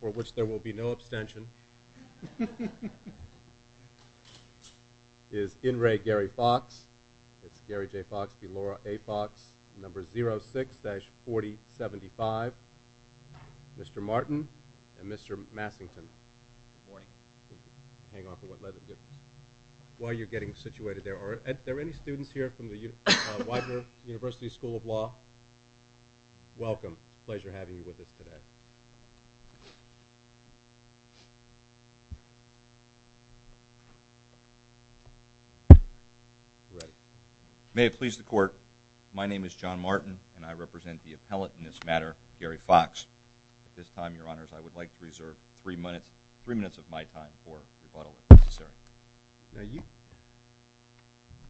for which there will be no abstention, is In Re Gary Fox. It's Gary J. Fox, Delora A. Fox, number 06-4075. Mr. Martin and Mr. Massington. Good morning. Hang on for what let it do. While you're getting situated there, are there any students here from the Weidner University School of Law? Welcome. Pleasure having you with us today. May it please the court. My name is John Martin, and I represent the appellate in this matter, Gary Fox. At this time, your honors, I would like to reserve three minutes of my time for rebuttal, if necessary. Now,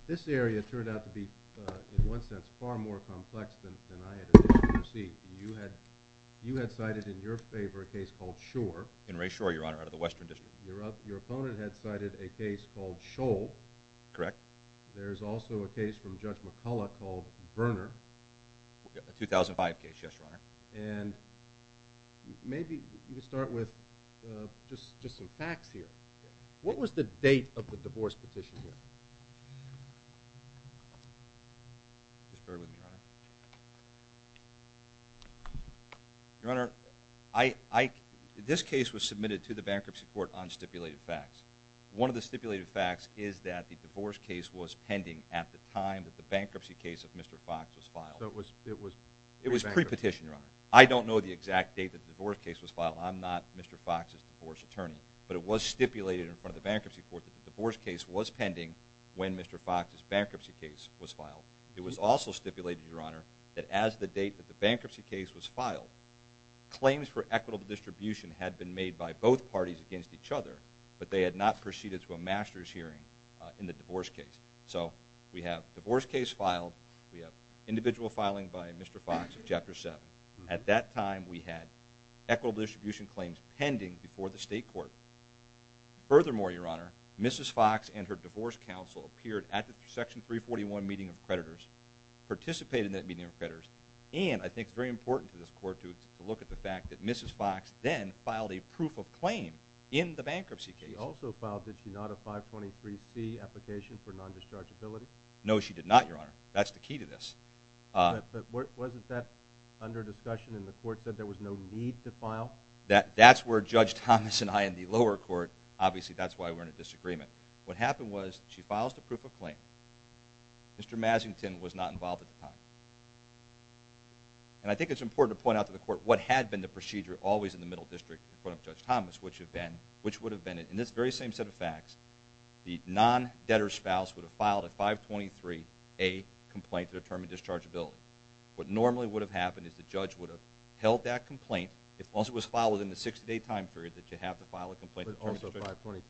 this area turned out to be, in one sense, far more complex than I had expected to see. You had cited in your favor a case called Shor. In Re Shor, your honor, out of the Western District. Your opponent had cited a case called Scholl. Correct. There's also a case from Judge McCullough called Verner. A 2005 case, yes, your honor. And maybe you could start with just some facts here. What was the date of the divorce petition here? Mr. Erwin Kline. Your honor, this case was submitted to the bankruptcy court on stipulated facts. One of the stipulated facts is that the divorce case was pending at the time that the bankruptcy case of Mr. Fox was filed. So it was pre-bankruptcy? It was pre-petition, your honor. I don't know the exact date that the divorce case was filed. I'm not Mr. Fox's divorce attorney. But it was stipulated in front of the bankruptcy court that the divorce case was pending when Mr. Fox's bankruptcy case was filed. It was also stipulated, your honor, that as the date that the bankruptcy case was filed, claims for equitable distribution had been made by both parties against each other, but they had not proceeded to a master's hearing in the divorce case. So we have divorce case filed. We have individual filing by Mr. Fox in Chapter 7. At that time, we had equitable distribution claims pending before the state court. Furthermore, your honor, Mrs. Fox and her divorce counsel appeared at the Section 341 meeting of creditors, participated in that meeting of creditors, and I think it's very important to this court to look at the fact that Mrs. Fox then filed a proof of claim in the bankruptcy case. She also filed, did she, not a 523C application for non-dischargeability? No, she did not, your honor. That's the key to this. But wasn't that under discussion and the court said there was no need to file? That's where Judge Thomas and I in the lower court, obviously that's why we're in a disagreement. What happened was she files the proof of claim. Mr. Massington was not involved at the time. And I think it's important to point out to the court what had been the procedure always in the middle district in front of Judge Thomas, which would have been in this very same set of facts, the non-debtor spouse would have filed a 523A complaint to determine dischargeability. What normally would have happened is the judge would have held that complaint. It also was filed within the 60-day time period that you have to file a complaint to determine discharge. But also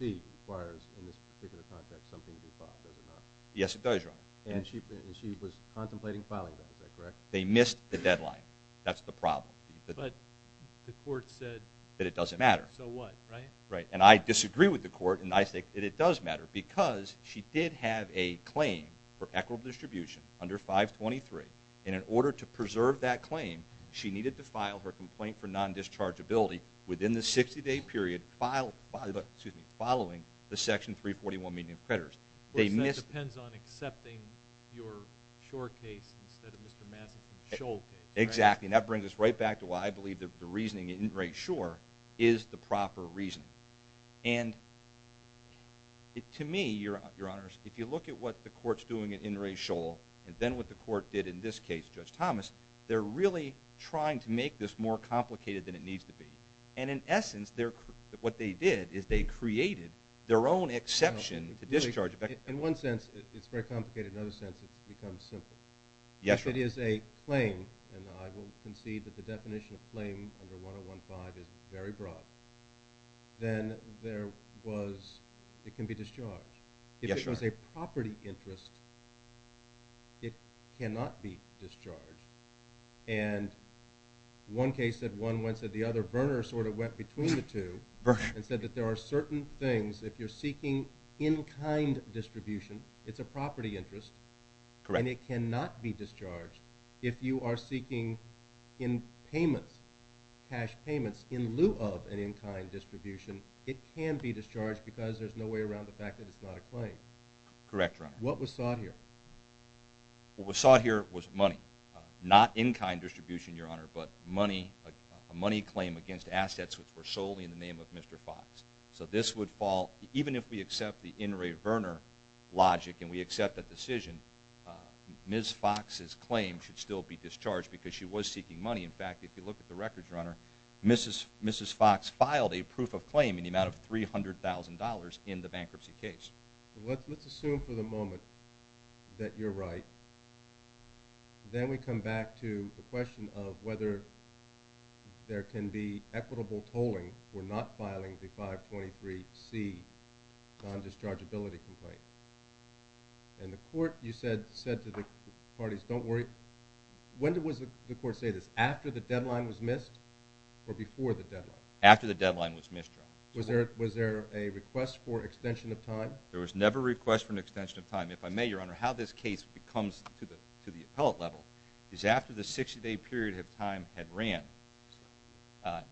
523C requires in this particular context something to be filed, does it not? Yes, it does, your honor. And she was contemplating filing that, is that correct? They missed the deadline. That's the problem. But the court said. That it doesn't matter. So what, right? Right, and I disagree with the court and I think that it does matter because she did have a claim for equitable distribution under 523 and in order to preserve that claim, she needed to file her complaint for non-dischargeability within the 60-day period following the section 341 meeting of creditors. Of course, that depends on accepting your Shore case instead of Mr. Massey's Shoal case, right? Exactly, and that brings us right back to why I believe that the reasoning at In re Shore is the proper reason. And to me, your honors, if you look at what the court's doing at In re Shoal and then what the court did in this case, Judge Thomas, they're really trying to make this more complicated than it needs to be. And in essence, what they did is they created their own exception to discharge. In one sense, it's very complicated. In another sense, it becomes simple. Yes, Your Honor. If it is a claim, and I will concede that the definition of claim under 1015 is very broad, then there was, it can be discharged. Yes, Your Honor. If it was a property interest, it cannot be discharged. And one case said one went to the other, Berner sort of went between the two and said that there are certain things, if you're seeking in-kind distribution, it's a property interest, and it cannot be discharged. If you are seeking in payments, cash payments, in lieu of an in-kind distribution, it can be discharged because there's no way around the fact that it's not a claim. Correct, Your Honor. What was sought here? What was sought here was money, not in-kind distribution, Your Honor, but money, a money claim against assets which were solely in the name of Mr. Fox. So this would fall, even if we accept the In re Verner logic and we accept that decision, Ms. Fox's claim should still be discharged because she was seeking money. In fact, if you look at the records, Your Honor, Mrs. Fox filed a proof of claim in the amount of $300,000 in the bankruptcy case. Let's assume for the moment that you're right. Then we come back to the question of whether there can be equitable tolling for not filing the 523C non-dischargeability complaint. And the court, you said to the parties, don't worry. When did the court say this? After the deadline was missed or before the deadline? After the deadline was missed, Your Honor. Was there a request for extension of time? There was never a request for an extension of time. If I may, Your Honor, how this case comes to the appellate level is after the 60-day period of time had ran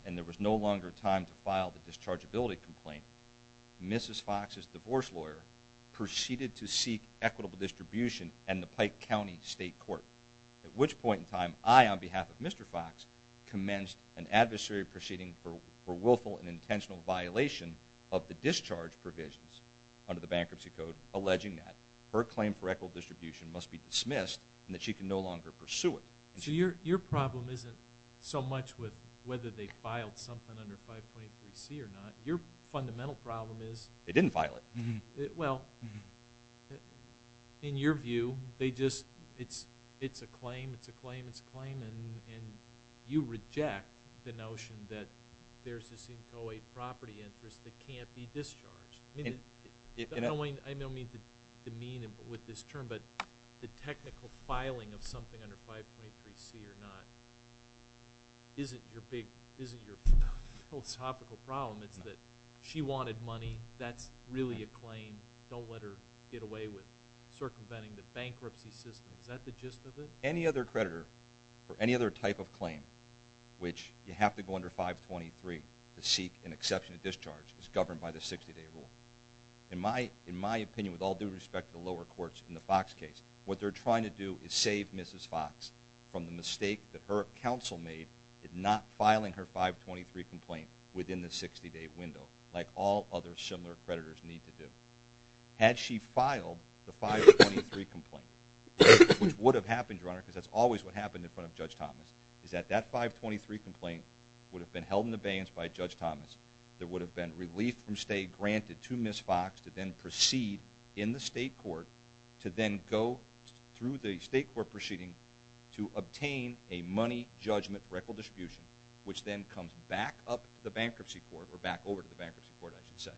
and there was no longer time to file the dischargeability complaint, Mrs. Fox's divorce lawyer proceeded to seek equitable distribution and the Pike County State Court, at which point in time I, on behalf of Mr. Fox, commenced an adversary proceeding for willful and intentional violation of the discharge provisions under the Bankruptcy Code, alleging that her claim for equitable distribution must be dismissed and that she can no longer pursue it. So your problem isn't so much with whether they filed something under 523C or not. Your fundamental problem is. They didn't file it. Well, in your view, they just, it's a claim, it's a claim, it's a claim, and you reject the notion that there's this employee property interest that can't be discharged. I mean, I don't mean to demean him with this term, but the technical filing of something under 523C or not isn't your big, isn't your topical problem. It's that she wanted money. That's really a claim. Don't let her get away with circumventing the bankruptcy system. Is that the gist of it? Any other creditor or any other type of claim which you have to go under 523 to seek an exception to discharge is governed by the 60-day rule. In my opinion, with all due respect to the lower courts in the Fox case, what they're trying to do is save Mrs. Fox from the mistake that her counsel made in not filing her 523 complaint within the 60-day window like all other similar creditors need to do. Had she filed the 523 complaint, which would have happened, Your Honor, because that's always what happened in front of Judge Thomas is that that 523 complaint would have been held in abeyance by Judge Thomas. There would have been relief from state granted to Ms. Fox to then proceed in the state court to then go through the state court proceeding to obtain a money judgment for equitable distribution, which then comes back up to the bankruptcy court or back over to the bankruptcy court, I should say,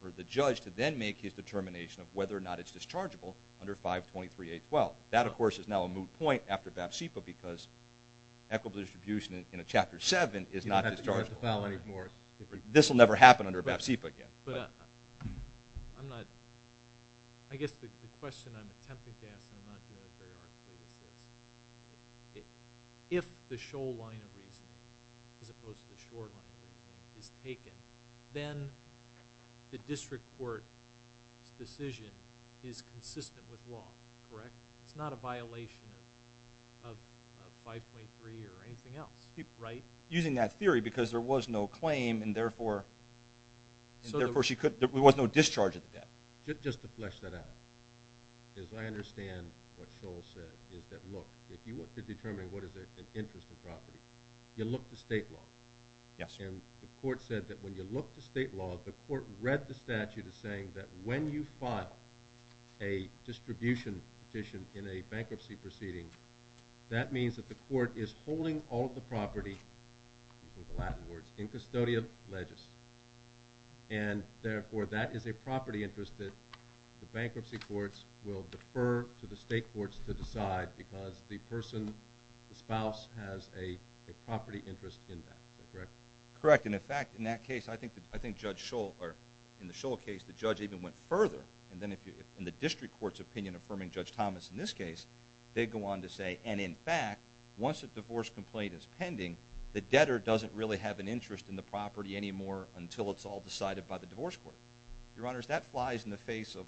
for the judge to then make his determination of whether or not it's dischargeable under 523.812. That, of course, is now a moot point after BAP-CIPA because equitable distribution in a Chapter 7 is not dischargeable. You don't have to file any more. This will never happen under BAP-CIPA again. I'm not, I guess the question I'm attempting to ask and I'm not doing it very articulately is this. If the shoal line of reasoning as opposed to the shore line of reasoning is taken, then the district court's decision is consistent with law, correct? It's not a violation of 5.3 or anything else, right? Using that theory because there was no claim and therefore she couldn't, there was no discharge of the debt. Just to flesh that out, as I understand what Shoal said, is that look, if you want to determine what is an interest in property, you look to state law. Yes. And the court said that when you look to state law, the court read the statute as saying that when you file a distribution petition in a bankruptcy proceeding, that means that the court is holding all of the property, in Latin words, in custodial legis. And therefore that is a property interest that the bankruptcy courts will defer to the state courts to decide because the person, the spouse, has a property interest in that, correct? Correct, and in fact, in that case, I think Judge Shoal, or in the Shoal case, the judge even went further. And then in the district court's opinion affirming Judge Thomas in this case, they go on to say, and in fact, once a divorce complaint is pending, the debtor doesn't really have an interest in the property anymore until it's all decided by the divorce court. Your honors, that flies in the face of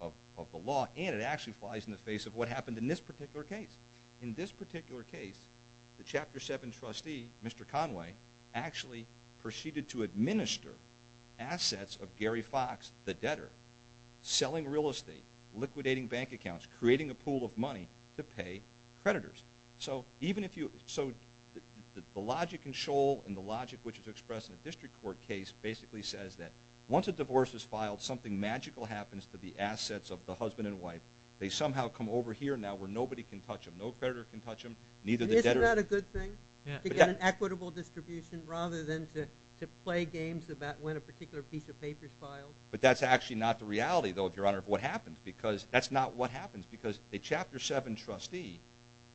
the law, and it actually flies in the face of what happened in this particular case. In this particular case, the Chapter 7 trustee, Mr. Conway, actually proceeded to administer assets of Gary Fox, the debtor, selling real estate, liquidating bank accounts, creating a pool of money to pay creditors. So even if you, so the logic in Shoal and the logic which is expressed in the district court case basically says that once a divorce is filed, something magical happens to the assets of the husband and wife. They somehow come over here now where nobody can touch them. No creditor can touch them, neither the debtor. Isn't that a good thing? Yeah. To get an equitable distribution rather than to play games about when a particular piece of paper is filed. But that's actually not the reality, though, if your honor, of what happens, because that's not what happens, because a Chapter 7 trustee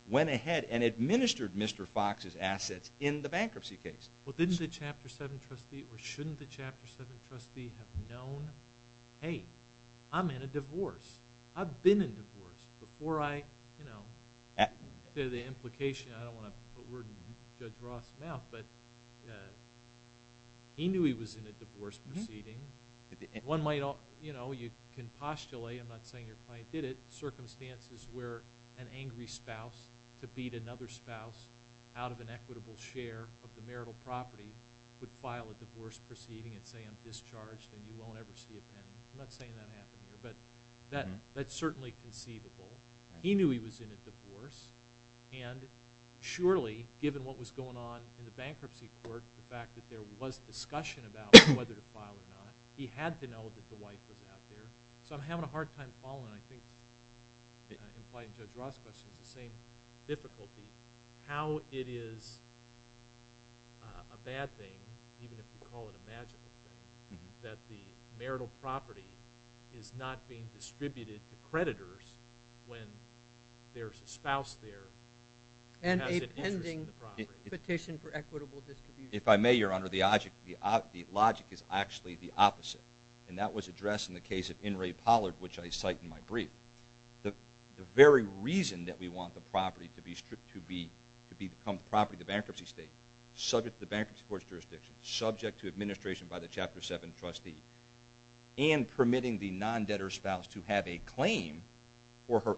went ahead and administered Mr. Fox's assets in the bankruptcy case. Well, didn't the Chapter 7 trustee, or shouldn't the Chapter 7 trustee have known, hey, I'm in a divorce. I've been in a divorce before I, you know, the implication, I don't want to put word in Judge Ross' mouth, but he knew he was in a divorce proceeding. One might, you know, you can postulate, I'm not saying your client did it, circumstances where an angry spouse to beat another spouse out of an equitable share of the marital property would file a divorce proceeding and say I'm discharged and you won't ever see a penny. I'm not saying that happened here, but that's certainly conceivable. He knew he was in a divorce, and surely, given what was going on in the bankruptcy court, the fact that there was discussion about whether to file or not, he had to know that the wife was out there. So I'm having a hard time following, I think, in fighting Judge Ross' questions, the same difficulty, how it is a bad thing, even if you call it a magical thing, that the marital property is not being distributed to creditors when there's a spouse there who has an interest in the property. And a pending petition for equitable distribution. If I may, Your Honor, the logic is actually the opposite, and that was addressed in the case of In re Pollard, which I cite in my brief. The very reason that we want the property to become property of the bankruptcy state, subject to the bankruptcy court's jurisdiction, subject to administration by the chapter seven trustee, and permitting the non-debtor spouse to have a claim for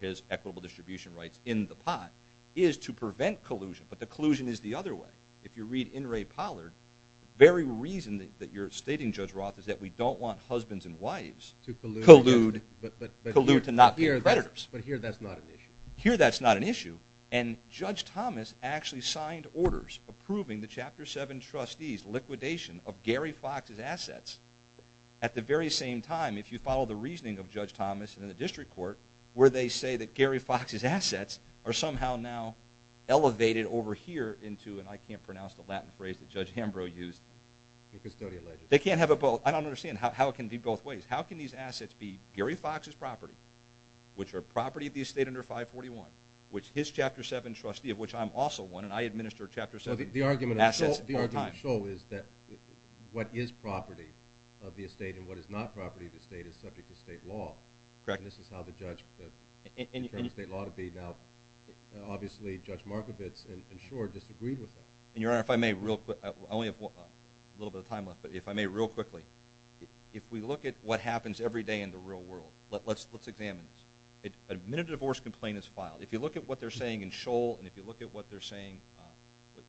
his equitable distribution rights in the pot is to prevent collusion, but the collusion is the other way. If you read In re Pollard, very reason that you're stating, Judge Ross, is that we don't want husbands and wives to collude. Collude to not be creditors. But here that's not an issue. Here that's not an issue, and Judge Thomas actually signed orders approving the chapter seven trustee's liquidation of Gary Fox's assets at the very same time, if you follow the reasoning of Judge Thomas in the district court, where they say that Gary Fox's assets are somehow now elevated over here into, and I can't pronounce the Latin phrase that Judge Hambrough used. The custodial agency. They can't have it both. I don't understand how it can be both ways. How can these assets be Gary Fox's property, which are property of the estate under 541, which his chapter seven trustee, of which I'm also one, and I administer chapter seven assets at the same time. The argument of the show is that what is property of the estate and what is not property of the estate is subject to state law. Correct. And this is how the judge, the current state law to be now. Obviously, Judge Markovitz and Schor disagreed with that. And Your Honor, if I may real quick. I only have a little bit of time left, but if I may real quickly. If we look at what happens every day in the real world, let's examine this. A minute a divorce complaint is filed. If you look at what they're saying in Shoal, and if you look at what they're saying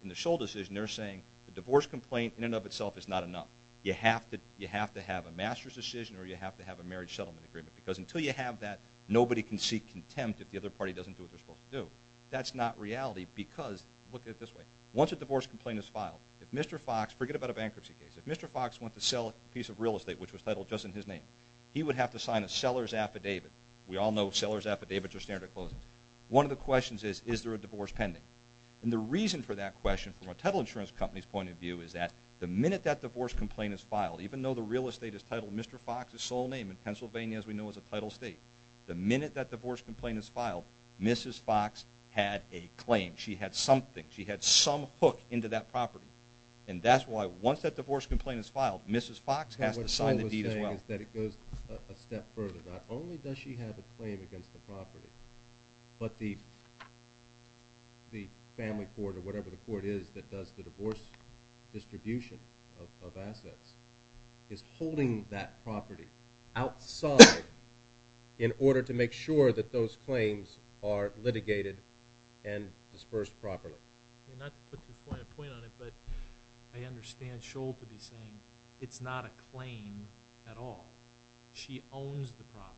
in the Shoal decision, they're saying the divorce complaint in and of itself is not enough. You have to have a master's decision or you have to have a marriage settlement agreement. Because until you have that, nobody can seek contempt if the other party doesn't do what they're supposed to do. That's not reality because, look at it this way. Once a divorce complaint is filed, if Mr. Fox, forget about a bankruptcy case. If Mr. Fox wants to sell a piece of real estate, which was titled just in his name, he would have to sign a seller's affidavit. We all know seller's affidavits are standard of clothing. One of the questions is, is there a divorce pending? And the reason for that question, from a title insurance company's point of view, is that the minute that divorce complaint is filed, even though the real estate is titled Mr. Fox, his sole name in Pennsylvania, as we know, is a title state. The minute that divorce complaint is filed, Mrs. Fox had a claim. She had something. She had some hook into that property. And that's why once that divorce complaint is filed, Mrs. Fox has to sign the deed as well. That it goes a step further. Not only does she have a claim against the property, but the family court or whatever the court is that does the divorce distribution of assets is holding that property outside in order to make sure that those claims are litigated and dispersed properly. Not to put a point on it, but I understand Scholl to be saying it's not a claim at all. She owns the property.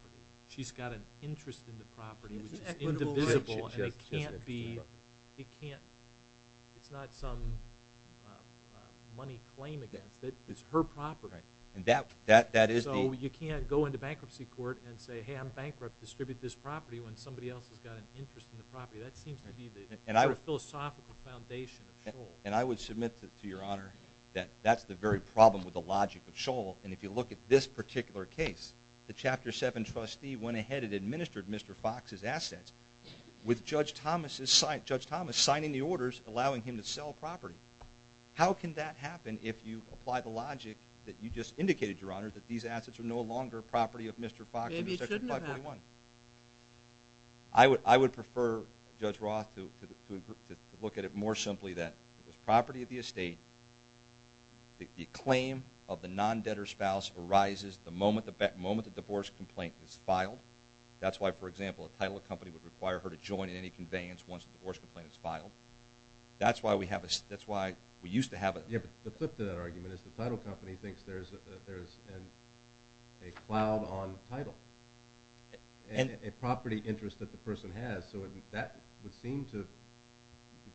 She's got an interest in the property, which is indivisible, and it can't be, it can't, it's not some money claim against it. It's her property. So you can't go into bankruptcy court and say, when somebody else has got an interest in the property. That seems to be the philosophical foundation of Scholl. And I would submit to your honor that that's the very problem with the logic of Scholl. And if you look at this particular case, the Chapter 7 trustee went ahead and administered Mr. Fox's assets with Judge Thomas signing the orders, allowing him to sell property. How can that happen if you apply the logic that you just indicated, your honor, of Mr. Fox and the Section 541? Maybe it shouldn't have happened. I would prefer, Judge Roth, to look at it more simply that the property of the estate, the claim of the non-debtor spouse arises the moment the divorce complaint is filed. That's why, for example, a title company would require her to join in any conveyance once a divorce complaint is filed. That's why we have a, that's why we used to have a. Yeah, but the flip to that argument is the title company thinks there's a cloud on title. And a property interest that the person has. So that would seem to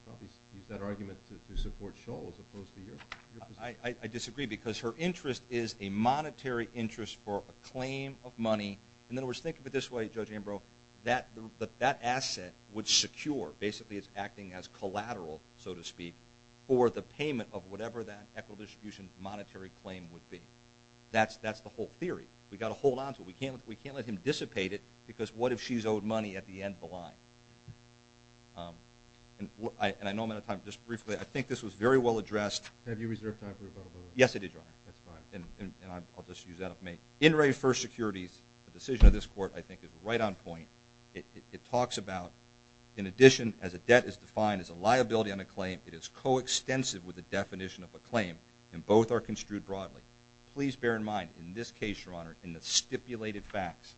probably use that argument to support Scholl as opposed to you. I disagree because her interest is a monetary interest for a claim of money. In other words, think of it this way, Judge Ambrose, that asset would secure, basically it's acting as collateral, so to speak, for the payment of whatever that equitable distribution monetary claim would be. That's the whole theory. We gotta hold on to it. We can't let him dissipate it because what if she's owed money at the end of the line? And I know I'm out of time, but just briefly, I think this was very well addressed. Have you reserved time for a vote? Yes, I did, Your Honor. That's fine. And I'll just use that if I may. In re first securities, the decision of this court, I think, is right on point. It talks about, in addition, as a debt is defined as a liability on a claim, it is coextensive with the definition of a claim, and both are construed broadly. Please bear in mind, in this case, Your Honor, in the stipulated facts,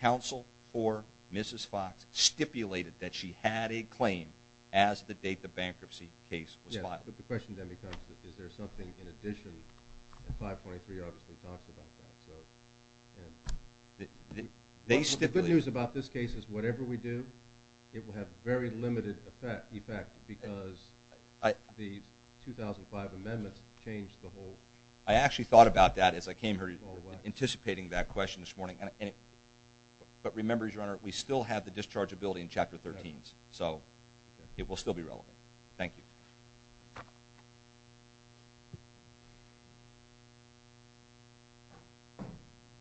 Counsel for Mrs. Fox stipulated that she had a claim as the date the bankruptcy case was filed. Yeah, but the question then becomes, is there something in addition? 5.3 obviously talks about that, so, and they stipulated. The good news about this case is whatever we do, it will have very limited effect because the 2005 amendments changed the whole. I actually thought about that as I came here, anticipating that question this morning. But remember, Your Honor, we still have the dischargeability in Chapter 13s, so it will still be relevant. Thank you.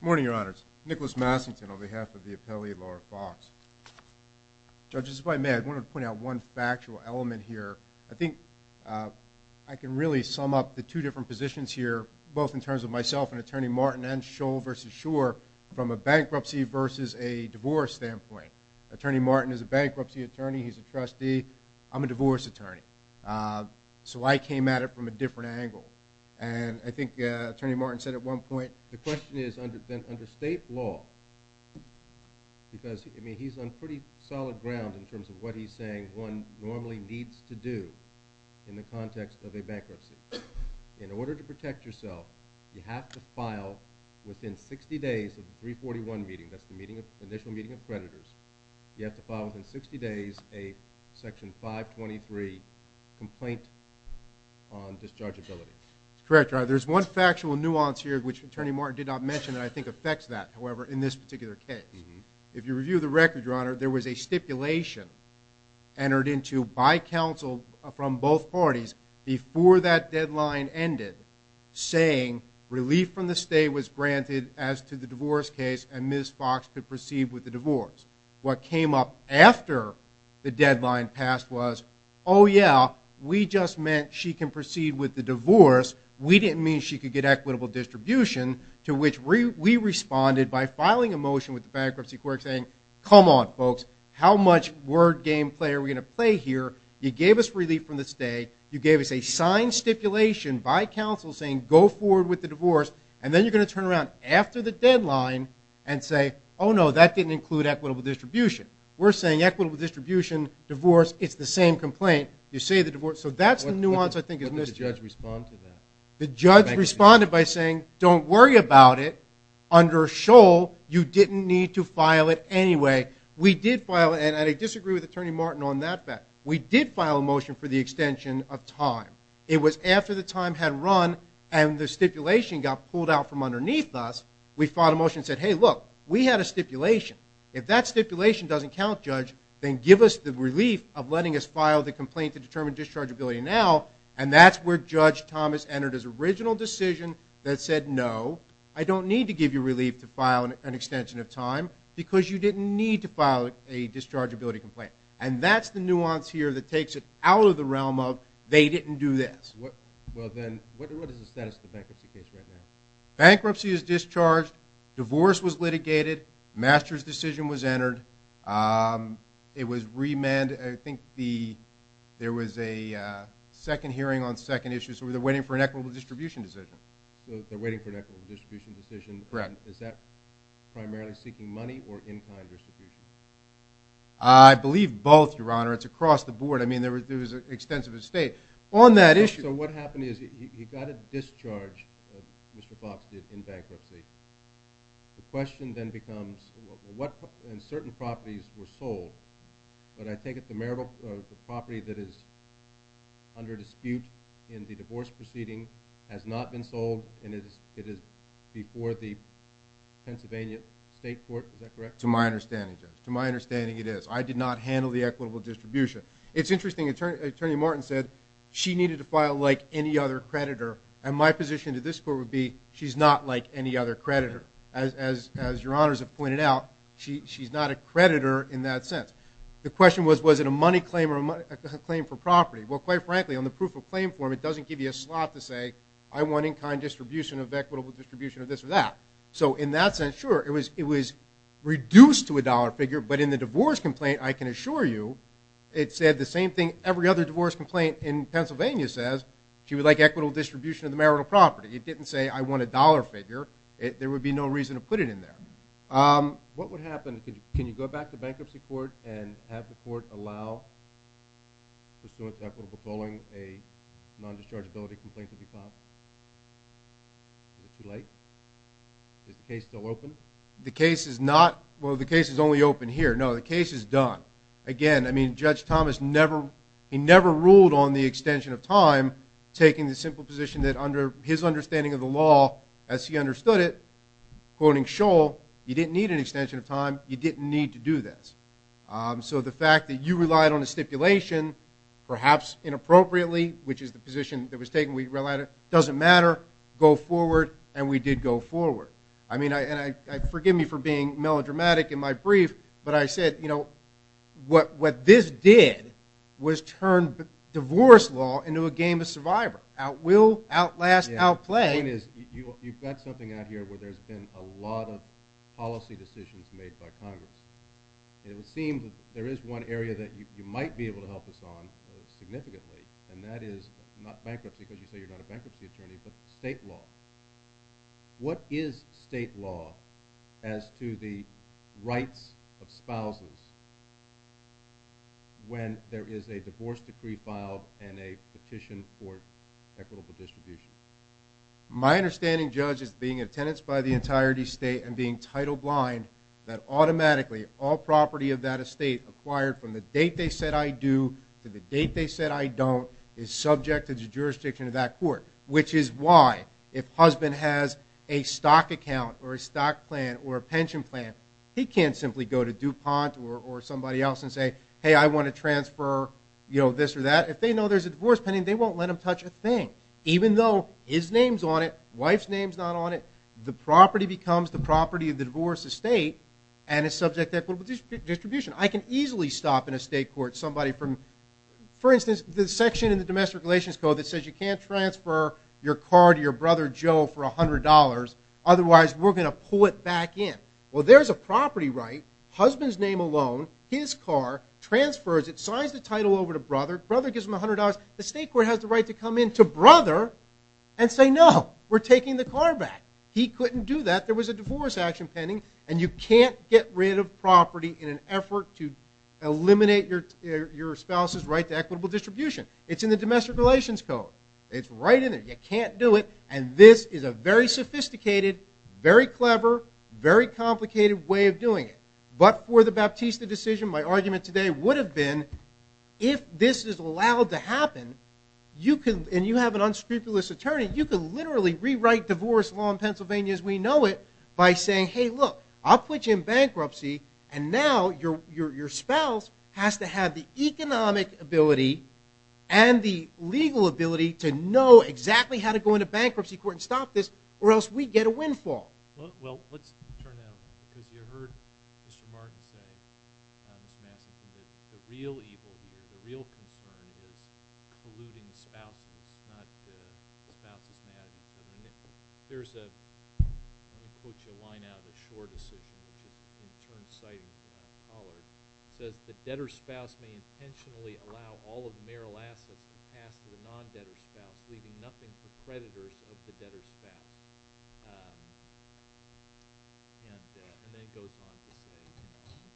Morning, Your Honors. Nicholas Massington on behalf of the appellee, Laura Fox. Judge, if I may, I wanted to point out one factual element here. I think I can really sum up the two different positions here, both in terms of myself and Attorney Martin and Scholl versus Schor, from a bankruptcy versus a divorce standpoint. Attorney Martin is a bankruptcy attorney, he's a trustee. I'm a divorce attorney. So I came at it from a different angle. And I think Attorney Martin said at one point, the question is, then, under state law, because, I mean, he's on pretty solid ground in terms of what he's saying one normally needs to do in the context of a bankruptcy. In order to protect yourself, you have to file, within 60 days of the 341 meeting, that's the initial meeting of creditors, you have to file within 60 days a Section 523 complaint on dischargeability. Correct, Your Honor. There's one factual nuance here which Attorney Martin did not mention and I think affects that, however, in this particular case. If you review the record, Your Honor, there was a stipulation entered into by counsel from both parties before that deadline ended, saying relief from the stay was granted as to the divorce case and Ms. Fox could proceed with the divorce. What came up after the deadline passed was, oh yeah, we just meant she can proceed with the divorce, we didn't mean she could get equitable distribution, to which we responded by filing a motion with the bankruptcy clerk saying, come on, folks, how much word game play are we gonna play here? You gave us relief from the stay, you gave us a signed stipulation by counsel saying go forward with the divorce and then you're gonna turn around after the deadline and say, oh no, that didn't include equitable distribution. We're saying equitable distribution, divorce, it's the same complaint. You say the divorce, so that's the nuance I think is missed here. What did the judge respond to that? The judge responded by saying, don't worry about it. Under Scholl, you didn't need to file it anyway. We did file, and I disagree with Attorney Martin on that fact, we did file a motion for the extension of time. It was after the time had run and the stipulation got pulled out from underneath us, we filed a motion and said, hey, look, we had a stipulation. If that stipulation doesn't count, judge, then give us the relief of letting us file the complaint to determine dischargeability now and that's where Judge Thomas entered his original decision that said, no, I don't need to give you relief to file an extension of time because you didn't need to file a dischargeability complaint and that's the nuance here that takes it out of the realm of, they didn't do this. Well then, what is the status of the bankruptcy case right now? Bankruptcy is discharged, divorce was litigated, master's decision was entered. It was remanded, I think there was a second hearing on second issue, so they're waiting for an equitable distribution decision. So they're waiting for an equitable distribution decision. Correct. Is that primarily seeking money or in-kind distribution? I believe both, Your Honor. It's across the board. I mean, there was extensive estate. On that issue. So what happened is he got a discharge, Mr. Fox did, in bankruptcy. The question then becomes what, and certain properties were sold, but I take it the property that is under dispute in the divorce proceeding has not been sold and it is before the Pennsylvania State Court, is that correct? To my understanding, Judge, to my understanding it is. I did not handle the equitable distribution. It's interesting, Attorney Martin said she needed to file like any other creditor and my position to this court would be she's not like any other creditor. As Your Honors have pointed out, she's not a creditor in that sense. The question was, was it a money claim or a claim for property? Well, quite frankly, on the proof of claim form, it doesn't give you a slot to say, I want in-kind distribution of equitable distribution of this or that. So in that sense, sure, it was reduced to a dollar figure, but in the divorce complaint, I can assure you, it said the same thing every other divorce complaint in Pennsylvania says. She would like equitable distribution of the marital property. It didn't say, I want a dollar figure. There would be no reason to put it in there. What would happen, can you go back to bankruptcy court and have the court allow, pursuant to equitable polling, a non-dischargeability complaint to be filed? Is it too late? Is the case still open? The case is not, well, the case is only open here. No, the case is done. Again, I mean, Judge Thomas never, he never ruled on the extension of time, taking the simple position that, under his understanding of the law, as he understood it, quoting Shull, you didn't need an extension of time, you didn't need to do this. So the fact that you relied on a stipulation, perhaps inappropriately, which is the position that was taken, we relied on, doesn't matter, go forward, and we did go forward. I mean, and forgive me for being melodramatic in my brief, but I said, you know, what this did was turn divorce law into a game of survivor. Out will, out last, out play. The point is, you've got something out here where there's been a lot of policy decisions made by Congress. It would seem that there is one area that you might be able to help us on significantly, and that is, not bankruptcy, because you say you're not a bankruptcy attorney, but state law. What is state law as to the rights of spouses when there is a divorce decree filed and a petition for equitable distribution? My understanding, Judge, is being a tenants by the entirety state and being title blind, that automatically, all property of that estate acquired from the date they said I do to the date they said I don't is subject to the jurisdiction of that court, which is why, if husband has a stock account or a stock plan or a pension plan, he can't simply go to DuPont or somebody else and say, hey, I want to transfer this or that. If they know there's a divorce pending, they won't let him touch a thing. Even though his name's on it, wife's name's not on it, the property becomes the property of the divorce estate and is subject to equitable distribution. I can easily stop in a state court somebody from, for instance, the section in the Domestic Relations Code that says you can't transfer your car to your brother Joe for $100, otherwise we're gonna pull it back in. Well, there's a property right. Husband's name alone, his car, transfers it, signs the title over to brother, brother gives him $100, the state court has the right to come in to brother and say, no, we're taking the car back. He couldn't do that. There was a divorce action pending and you can't get rid of property in an effort to eliminate your spouse's right to equitable distribution. It's in the Domestic Relations Code. It's right in there, you can't do it and this is a very sophisticated, very clever, very complicated way of doing it. But for the Baptista decision, my argument today would have been, if this is allowed to happen, you can, and you have an unscrupulous attorney, you can literally rewrite divorce law in Pennsylvania as we know it by saying, hey, look, I'll put you in bankruptcy and now your spouse has to have the economic ability and the legal ability to know exactly how to go into bankruptcy court and stop this or else we get a windfall. Well, let's turn now, because you heard Mr. Martin say, the real evil here, the real concern is colluding spouses, not the spouses magic. There's a, I'll quote you a line out of the Shore decision which is in turn citing Pollard, says the debtor's spouse may intentionally allow all of the marital assets to pass to the non-debtor's spouse leaving nothing for creditors of the debtor's spouse. And then it goes on to say,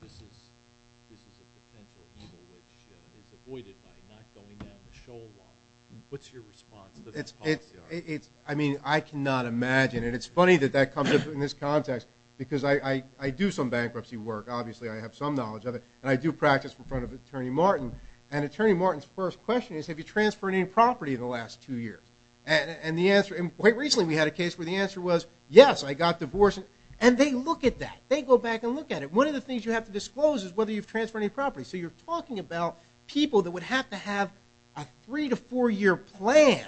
this is a potential evil which is avoided by not going down the shoal line. What's your response to that policy argument? I mean, I cannot imagine it. It's funny that that comes up in this context because I do some bankruptcy work. Obviously, I have some knowledge of it and I do practice in front of Attorney Martin and Attorney Martin's first question is, have you transferred any property in the last two years? And the answer, and quite recently we had a case where the answer was, yes, I got divorced and they look at that. They go back and look at it. One of the things you have to disclose is whether you've transferred any property. So you're talking about people that would have to have a three to four year plan.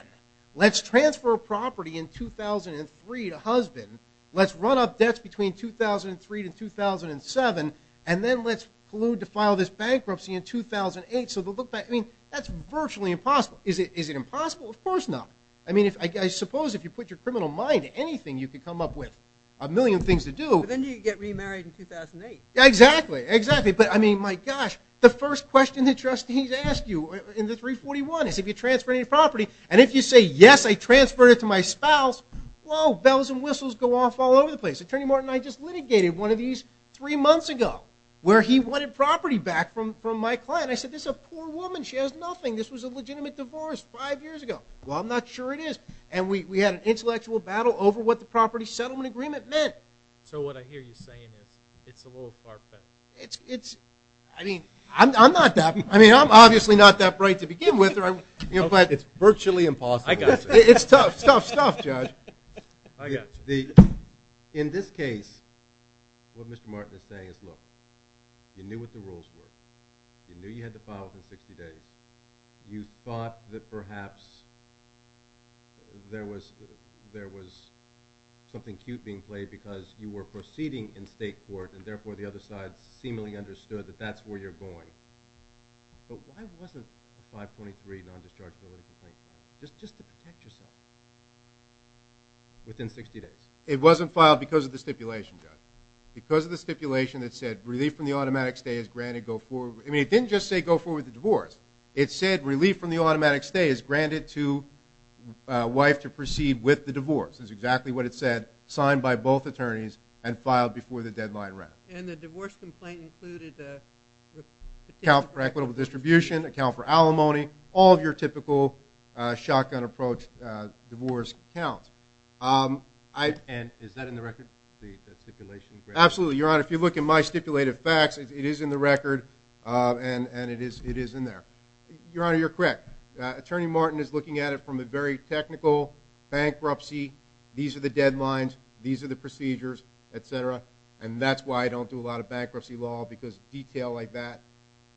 Let's transfer property in 2003 to husband. Let's run up debts between 2003 to 2007 and then let's collude to file this bankruptcy in 2008. So they'll look back, I mean, that's virtually impossible. Is it impossible? Of course not. I mean, I suppose if you put your criminal mind to anything, you could come up with a million things to do. But then you get remarried in 2008. Yeah, exactly, exactly. But I mean, my gosh, the first question that trustees ask you in the 341 is if you transfer any property. And if you say, yes, I transferred it to my spouse, well, bells and whistles go off all over the place. Attorney Martin and I just litigated one of these three months ago where he wanted property back from my client. I said, this is a poor woman. She has nothing. This was a legitimate divorce five years ago. Well, I'm not sure it is. And we had an intellectual battle over what the property settlement agreement meant. So what I hear you saying is it's a little far-fetched. It's, I mean, I'm not that, I mean, I'm obviously not that bright to begin with, but it's virtually impossible. I got you. It's tough, tough, tough, Judge. I got you. In this case, what Mr. Martin is saying is, look, you knew what the rules were. You knew you had to file within 60 days. You thought that perhaps there was something cute being played because you were proceeding in state court, and therefore the other side seemingly understood that that's where you're going. But why wasn't the 523 non-dischargeability complaint filed? Just to protect yourself within 60 days. It wasn't filed because of the stipulation, Judge. Because of the stipulation that said, relief from the automatic stay is granted, go forward. I mean, it didn't just say, go forward with the divorce. It said, relief from the automatic stay is granted to wife to proceed with the divorce. That's exactly what it said, signed by both attorneys and filed before the deadline ran out. And the divorce complaint included the... Account for equitable distribution, account for alimony, all of your typical shotgun approach divorce counts. And is that in the record, the stipulation? Absolutely, Your Honor. If you look in my stipulated facts, it is in the record, and it is in there. Your Honor, you're correct. Attorney Martin is looking at it from a very technical bankruptcy. These are the deadlines, these are the procedures, et cetera, and that's why I don't do a lot of bankruptcy law, because detail like that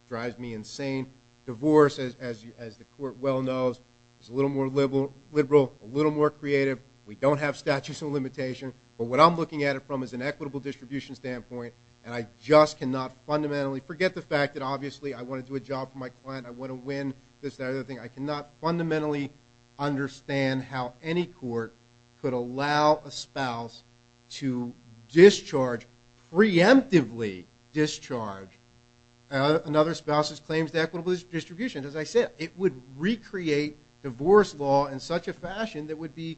drives me insane. Divorce, as the court well knows, is a little more liberal, a little more creative. We don't have statutes of limitation, but what I'm looking at it from is an equitable distribution standpoint, and I just cannot fundamentally... Forget the fact that, obviously, I want to do a job for my client, I want to win, this, that other thing. I cannot fundamentally understand how any court could allow a spouse to discharge, preemptively discharge another spouse's claims to equitable distribution. As I said, it would recreate divorce law in such a fashion that it would be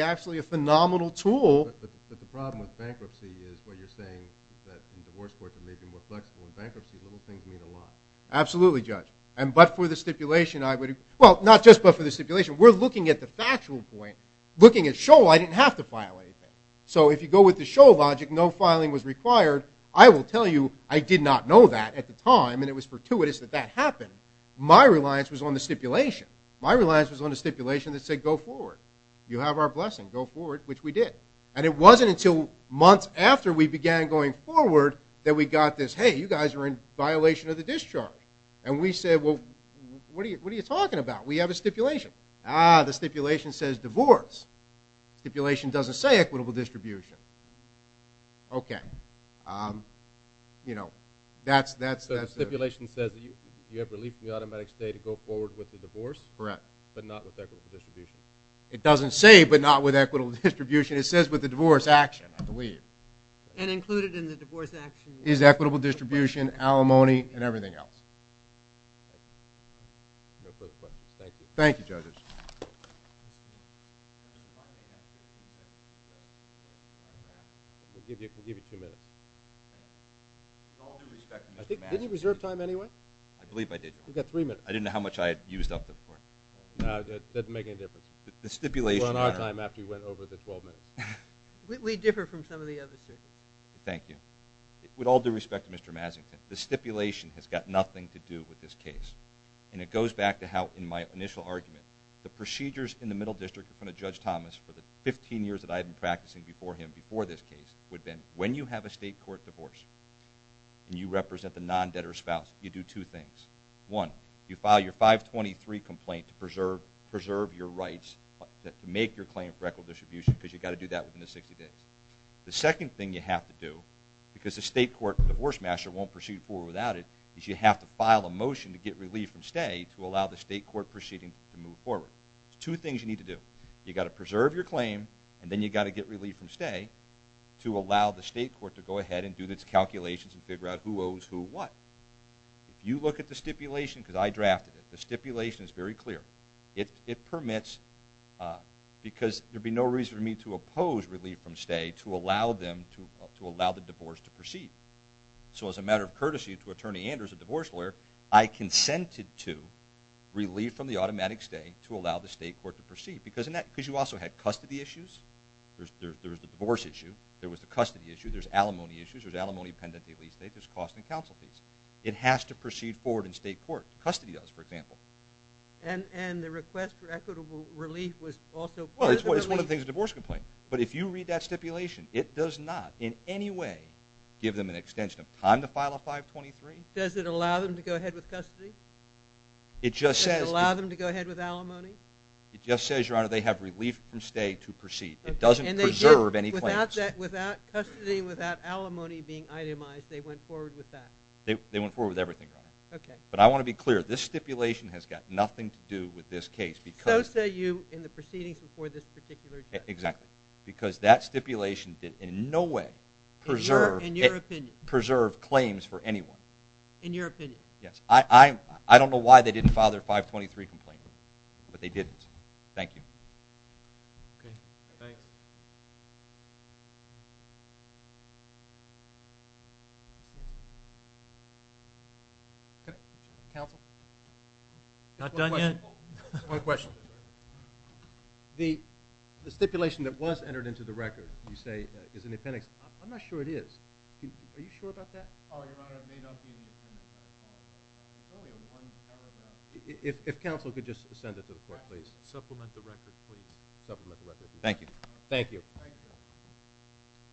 absolutely a phenomenal tool. But the problem with bankruptcy is what you're saying, that in divorce courts, it may be more flexible. In bankruptcy, little things mean a lot. Absolutely, Judge. And but for the stipulation, I would... Well, not just but for the stipulation. We're looking at the factual point. Looking at Shoal, I didn't have to file anything. So if you go with the Shoal logic, no filing was required. I will tell you, I did not know that at the time, and it was fortuitous that that happened. My reliance was on the stipulation. My reliance was on the stipulation that said go forward. You have our blessing, go forward, which we did. And it wasn't until months after we began going forward that we got this, hey, you guys are in violation of the discharge. And we said, well, what are you talking about? We have a stipulation. Ah, the stipulation says divorce. Stipulation doesn't say equitable distribution. Okay. You know, that's... So the stipulation says that you have relief from the automatic stay to go forward with the divorce? Correct. But not with equitable distribution? It doesn't say, but not with equitable distribution. It says with the divorce action, I believe. And included in the divorce action... Is equitable distribution, alimony, and everything else. No further questions, thank you. Thank you, judges. We'll give you two minutes. Didn't you reserve time anyway? I believe I did. You've got three minutes. I didn't know how much I had used up before. No, that doesn't make any difference. The stipulation... You were on our time after you went over the 12 minutes. We differ from some of the other cities. Thank you. With all due respect to Mr. Massington, the stipulation has got nothing to do with this case. And it goes back to how, in my initial argument, the procedures in the Middle District in front of Judge Thomas for the 15 years that I've been practicing before him, before this case, would then, when you have a state court divorce, and you represent the non-debtor spouse, you do two things. One, you file your 523 complaint to preserve your rights to make your claim for equitable distribution, because you've got to do that within the 60 days. The second thing you have to do, because the state court divorce master won't proceed forward without it, is you have to file a motion to get relief from stay to allow the state court proceeding to move forward. Two things you need to do. You've got to preserve your claim, and then you've got to get relief from stay to allow the state court to go ahead and do its calculations and figure out who owes who what. If you look at the stipulation, because I drafted it, the stipulation is very clear. It permits, because there'd be no reason for me to oppose relief from stay to allow them to allow the divorce to proceed. So as a matter of courtesy to Attorney Anders, a divorce lawyer, I consented to relief from the automatic stay to allow the state court to proceed, because you also had custody issues. There was the divorce issue. There was the custody issue. There's alimony issues. There's alimony pendency lease date. There's cost and counsel fees. It has to proceed forward in state court. Custody does, for example. And the request for equitable relief was also part of it? Well, it's one of the things, a divorce complaint. But if you read that stipulation, it does not in any way give them an extension of time to file a 523. Does it allow them to go ahead with custody? It just says. Does it allow them to go ahead with alimony? It just says, Your Honor, they have relief from stay to proceed. It doesn't preserve any claims. Without custody, without alimony being itemized, they went forward with that? They went forward with everything, Your Honor. But I want to be clear. This stipulation has got nothing to do with this case. So say you in the proceedings before this particular case. Exactly. Because that stipulation did in no way preserve claims for anyone. In your opinion. Yes. I don't know why they didn't file their 523 complaint. But they didn't. Thank you. OK. Thanks. Counsel? Not done yet. One question. The stipulation that was entered into the record, you say, is in the appendix. I'm not sure it is. Are you sure about that? Oh, Your Honor, it may not be in the appendix. It's only a one paragraph. If counsel could just send it to the court, please. Supplement the record, please. Supplement the record. Thank you. Thank you.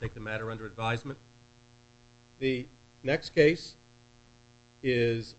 Take the matter under advisement. The next case is.